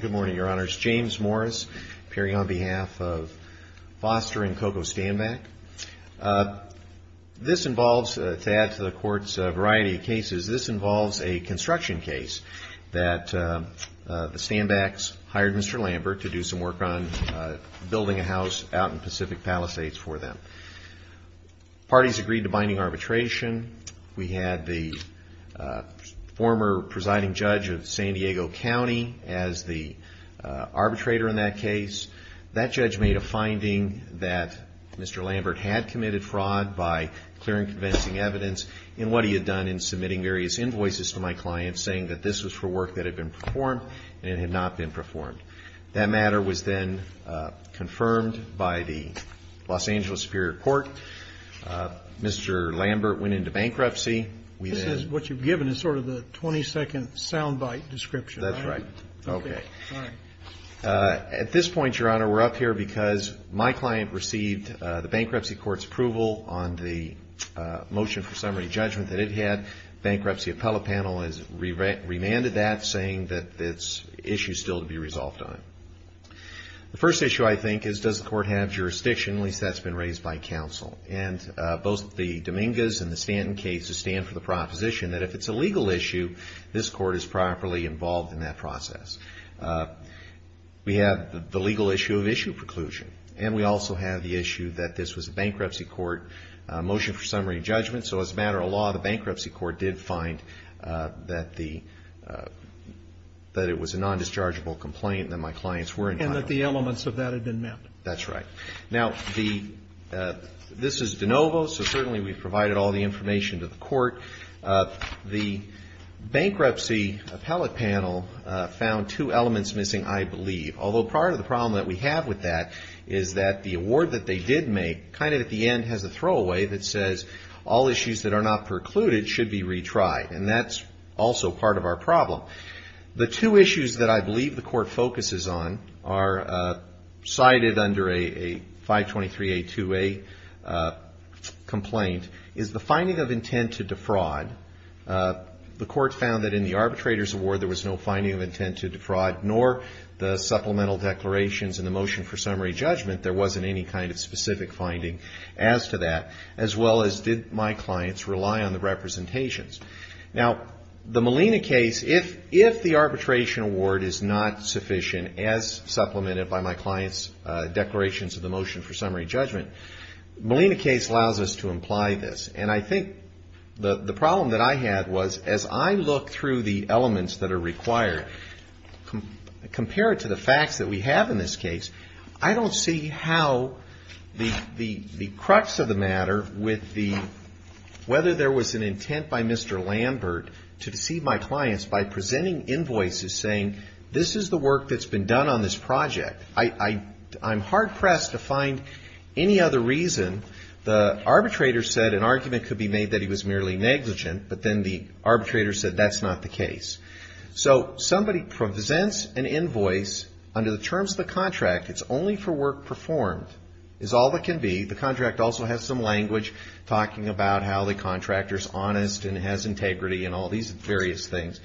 Good morning, your honors. James Morris, appearing on behalf of Foster and Coco Stanback. This involves, to add to the court's variety of cases, this involves a construction case that the Stanbacks hired Mr. Lambert to do some work on building a house out in Pacific Palisades for them. Parties agreed to binding arbitration. We had the former presiding judge of San Diego County as the arbitrator in that case. That judge made a finding that Mr. Lambert had committed fraud by clear and convincing evidence in what he had done in submitting various invoices to my clients saying that this was for work that had been performed and it had not been performed. That matter was then confirmed by the Los Angeles Superior Court. Mr. Lambert went into bankruptcy. We then This is what you've given is sort of the 22nd soundbite description, right? That's right. Okay. At this point, your honor, we're up here because my client received the bankruptcy court's approval on the motion for summary judgment that it had. Bankruptcy appellate panel has remanded that, saying that it's issue still to be resolved on. The first issue, I think, is does the court have jurisdiction? At least that's been raised by counsel. And both the Dominguez and the Stanton cases stand for the proposition that if it's a legal issue, this court is properly involved in that process. We have the legal issue of issue preclusion. And we also have the issue that this was a bankruptcy court motion for summary judgment. So as a matter of law, the bankruptcy court did find that the that it was a non-dischargeable complaint that my clients were entitled to. And that the elements of that had been met. That's right. Now, this is de novo. So certainly we've provided all the information to the court. The bankruptcy appellate panel found two elements missing, I believe. Although part of the problem that we have with that is that the award that they did make kind of at the end has a throwaway that says all issues that are not precluded should be retried. And that's also part of our problem. The two finding of intent to defraud, the court found that in the arbitrator's award there was no finding of intent to defraud, nor the supplemental declarations in the motion for summary judgment there wasn't any kind of specific finding as to that. As well as did my clients rely on the representations. Now, the Molina case, if the arbitration award is not sufficient as supplemented by my client's declarations of the motion for summary judgment, Molina case allows us to imply this. And I think the problem that I had was as I look through the elements that are required, compare it to the facts that we have in this case, I don't see how the crux of the matter with the whether there was an intent by Mr. Lambert to deceive my clients by presenting invoices saying this is the work that's been done on this project. I'm hard pressed to find any other reason. The arbitrator said an argument could be made that he was merely negligent, but then the arbitrator said that's not the case. So somebody presents an invoice under the terms of the contract, it's only for work performed, is all that can be. The contract also has some language talking about how the contractor's honest and has integrity and all these various things.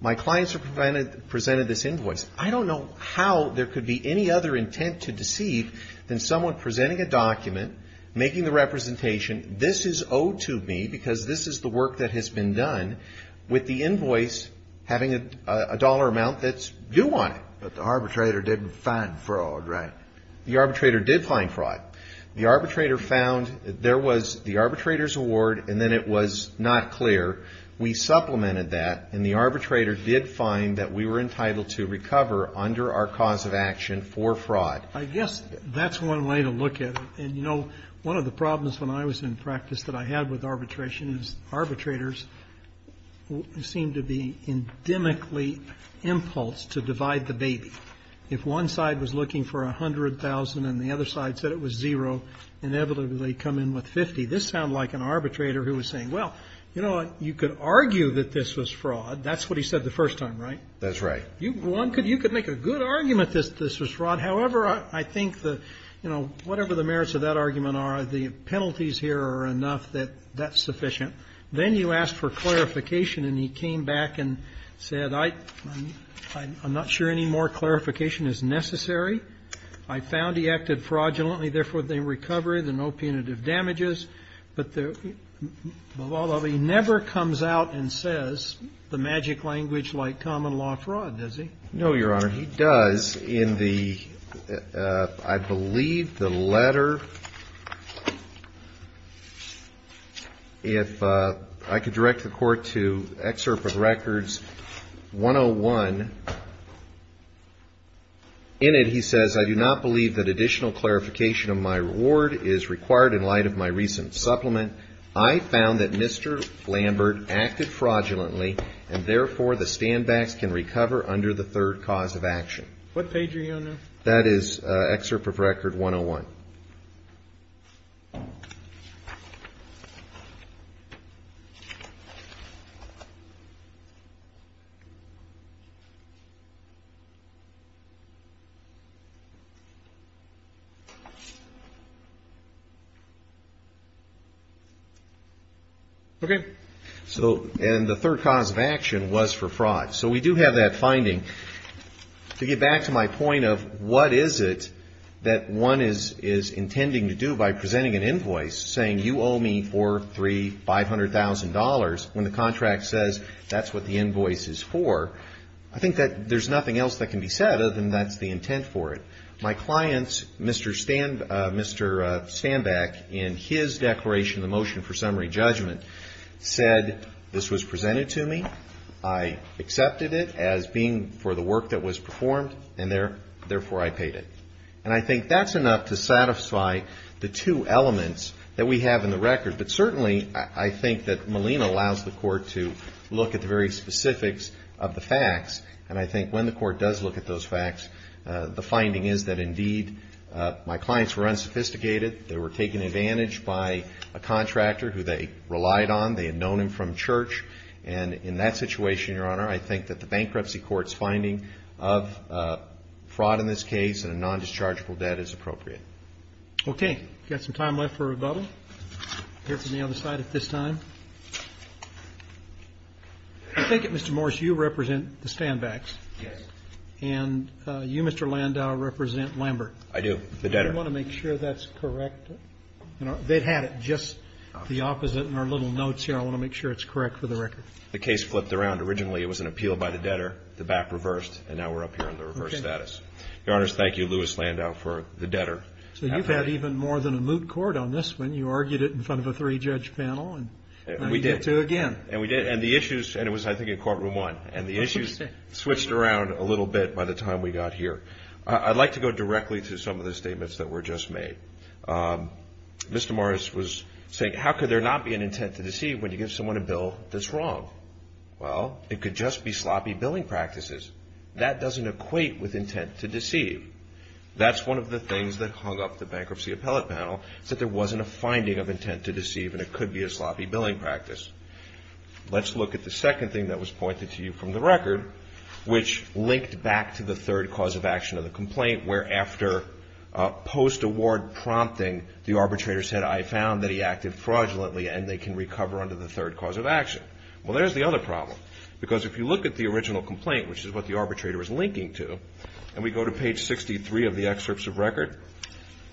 My clients presented this invoice. I don't know how there could be any other intent to deceive than someone presenting a document, making the representation, this is owed to me because this is the work that has been done, with the invoice having a dollar amount that's due on it. But the arbitrator didn't find fraud, right? The arbitrator did find fraud. The arbitrator found there was the arbitrator's award and then it was not clear. We supplemented that and the arbitrator did find that we were entitled to recover under our cause of action for fraud. I guess that's one way to look at it. And you know, one of the problems when I was in practice that I had with arbitration is arbitrators seem to be endemically impulsed to divide the baby. If one side was looking for $100,000 and the other side said it was zero, inevitably come in with $50,000. This sounded like an arbitrator who was saying, well, you know what, you could argue that this was fraud. That's what he said the first time, right? That's right. You could make a good argument that this was fraud. However, I think that, you know, whatever the merits of that argument are, the penalties here are enough that that's sufficient. Then you ask for clarification and he came back and said, I'm not sure any more clarification is necessary. I found he acted fraudulently. Therefore, they recovered and no punitive damages. But although he never comes out and says the magic language like common law fraud, does he? No, Your Honor, he does. In the, I believe the letter, if I could direct the Court to excerpt of records 101. In it, he says, I do not believe that additional clarification of my reward is required in light of my recent supplement. I found that Mr. Lambert acted fraudulently and therefore the standbacks can recover under the third cause of action. What page are you on now? That is excerpt of record 101. Okay. So, and the third cause of action was for fraud. So we do have that finding. To get back to my point of what is it that one is intending to do by presenting an invoice saying you owe me four, three, five hundred thousand dollars when the contract says that's what the invoice is for. I think that there's nothing else that can be said other than that's the intent for it. My clients, Mr. Standback, in his declaration, the motion for summary judgment, said this was presented to me. I accepted it as being for the work that was performed and therefore I paid it. And I think that's enough to satisfy the two elements that we have in the record. But certainly I think that Molina allows the court to look at the very specifics of the facts and I think when the court does look at those facts, the finding is that indeed my clients were unsophisticated. They were taken advantage by a contractor who they relied on. They had known him from church and in that situation, Your Honor, I think that the bankruptcy court's finding of fraud in this case and a non-dischargeable debt is appropriate. Okay. Got some time left for rebuttal. Here for me on the side at this time. I think that Mr. Morse, you represent the Standbacks. Yes. And you, Mr. Landau, represent Lambert. I do. The debtor. Do you want to make sure that's correct? They've had it just the opposite in our little notes here. I want to make sure it's correct for the record. The case flipped around. Originally it was an appeal by the debtor, the back reversed, and now we're up here in the reverse status. Your Honor, thank you, Louis Landau, for the debtor. So you've had even more than a moot court on this one. You argued it in front of a three-judge panel and now you get to it again. And we did. And the issues, and it was I think in courtroom one, and the issues switched around a little bit by the time we got here. I'd like to go directly to some of the statements that were just made. Mr. Morse was saying, how could there not be an intent to deceive when you give someone a bill that's wrong? Well, it could just be sloppy billing practices. That doesn't equate with intent to deceive. That's one of the things that hung up the bankruptcy appellate panel, is that there wasn't a finding of intent to deceive and it could be a sloppy billing practice. Let's look at the second thing that was pointed to you from the record, which linked back to the third cause of action of the complaint, where after post-award prompting, the arbitrator said, I found that he acted fraudulently and they can recover under the third cause of action. Well, there's the other problem. Because if you look at the original complaint, which is what the arbitrator is linking to, and we go to page 63 of the excerpts of record,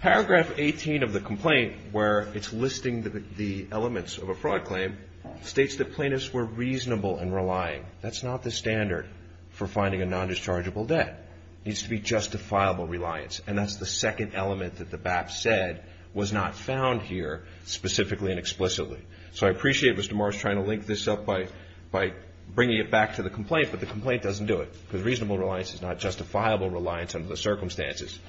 paragraph 18 of the complaint, where it's listing the elements of a fraud claim, states that plaintiffs were reasonable and relying. That's not the standard for finding a non-dischargeable debt. It needs to be justifiable reliance. And that's the second element that the BAP said was not found here specifically and explicitly. So I appreciate Mr. Morris trying to link this up by bringing it back to the complaint, but the complaint doesn't do it. Because reasonable reliance is not justifiable reliance under the circumstances.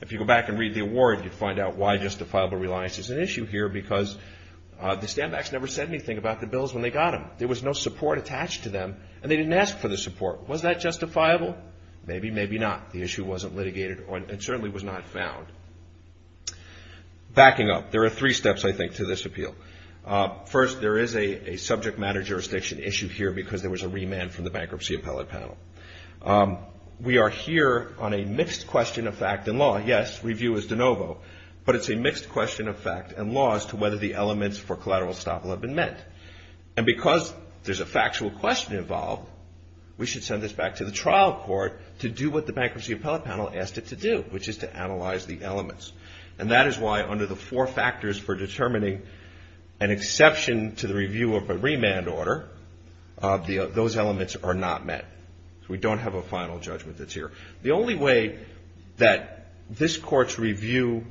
If you go back and read the award, you'd find out why justifiable reliance is an issue here, because the standbacks never said anything about the bills when they got them. There was no support attached to them and they didn't ask for the support. Was that justifiable? Maybe, maybe not. The issue wasn't litigated and certainly was not found. Backing up, there are three steps, I think, to this appeal. First, there is a subject matter jurisdiction issue here because there was a remand from the Bankruptcy Appellate Panel. We are here on a mixed question of fact and law. Yes, review is de novo, but it's a mixed question of fact and law as to whether the elements for collateral estoppel have been met. And because there's a factual question involved, we should send this back to the trial court to do what the Bankruptcy Appellate Panel asked it to do, which is to analyze the elements. And that is why under the four factors for determining an exception to the review of a remand order, those elements are not met. We don't have a final judgment that's here. The only way that this court's review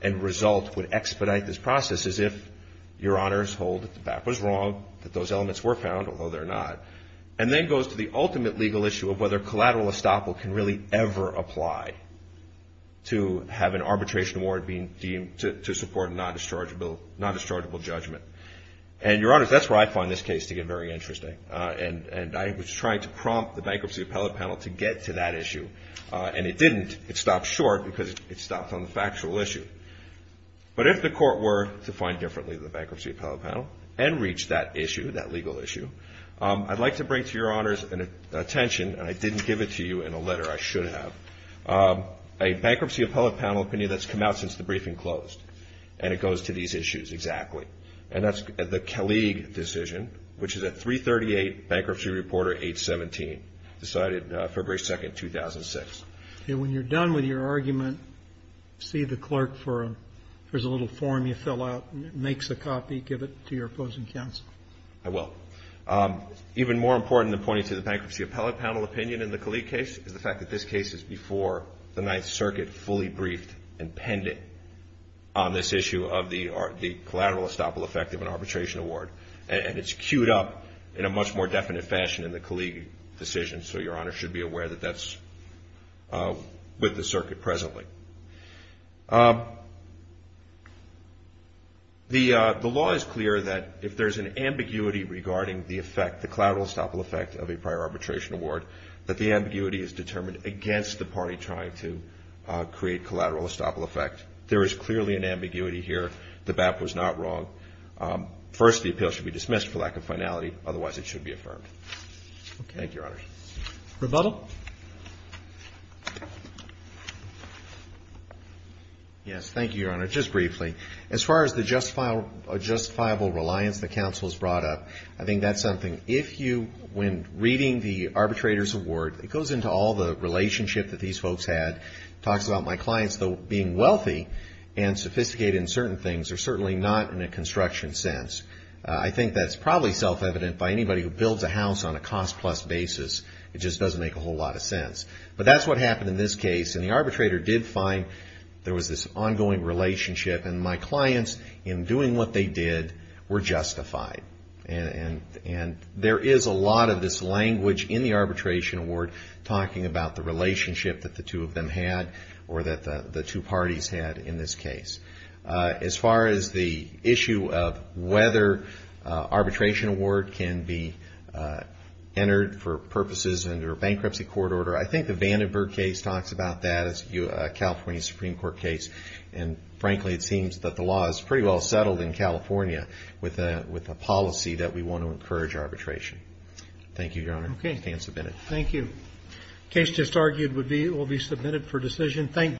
and result would expedite this process is if your honors hold that that was wrong, that those elements were found, although they're not. And then goes to the ultimate legal issue of whether collateral estoppel can really ever apply to have an arbitration award being deemed to support a non-dischargeable judgment. And your honors, that's where I find this case to get very interesting. And I was trying to prompt the Bankruptcy Appellate Panel to get to that issue, and it didn't. It stopped short because it stopped on the factual issue. But if the court were to find differently the Bankruptcy Appellate Panel and reach that issue, that legal issue, I'd like to bring to your honors attention, and I didn't give it to you in a letter, I should have, a Bankruptcy Appellate Panel opinion that's come out since the briefing closed. And it goes to these issues exactly. And that's the Kelleag decision, which is at 338 Bankruptcy Reporter 817, decided February 2nd, 2006. And when you're done with your argument, see the clerk for, there's a little form you fill out, makes a copy, give it to your opposing counsel. I will. Even more important than pointing to the Bankruptcy Appellate Panel opinion in the Kelleag case is the fact that this case is before the Ninth Circuit fully briefed and penned it on this issue of the collateral estoppel effect of an arbitration award. And it's queued up in a much more definite fashion in the Kelleag decision, so your honors should be aware that that's with the circuit presently. The law is clear that if there's an ambiguity regarding the effect, the collateral estoppel effect of a prior arbitration award, that the ambiguity is determined against the party trying to create collateral estoppel effect. There is clearly an ambiguity here. The BAP was not wrong. First, the appeal should be dismissed for lack of finality. Otherwise, it should be affirmed. Thank you, your honors. Rebuttal? Yes, thank you, your honor. Just briefly. As far as the justifiable reliance the counsel has brought up, I think that's something. If you, when reading the arbitrator's award, it goes into all the relationship that these folks had. Talks about my clients being wealthy and sophisticated in certain things. They're certainly not in a construction sense. I think that's probably self-evident by anybody who builds a house on a cost plus basis. It just doesn't make a whole lot of sense. But that's what happened in this case. And the arbitrator did find there was this ongoing relationship. And my clients, in doing what they did, were justified. And there is a lot of this language in the arbitration award talking about the relationship that the two of them had or that the two parties had in this case. As far as the issue of whether arbitration award can be entered for purposes under a bankruptcy court order, I think the Vandenberg case talks about that as a California Supreme Court case. And frankly, it seems that the law is pretty well settled in California with a policy that we want to encourage arbitration. Thank you, Your Honor. Okay. It's been submitted. Thank you. Case just argued will be submitted for decision. Thank.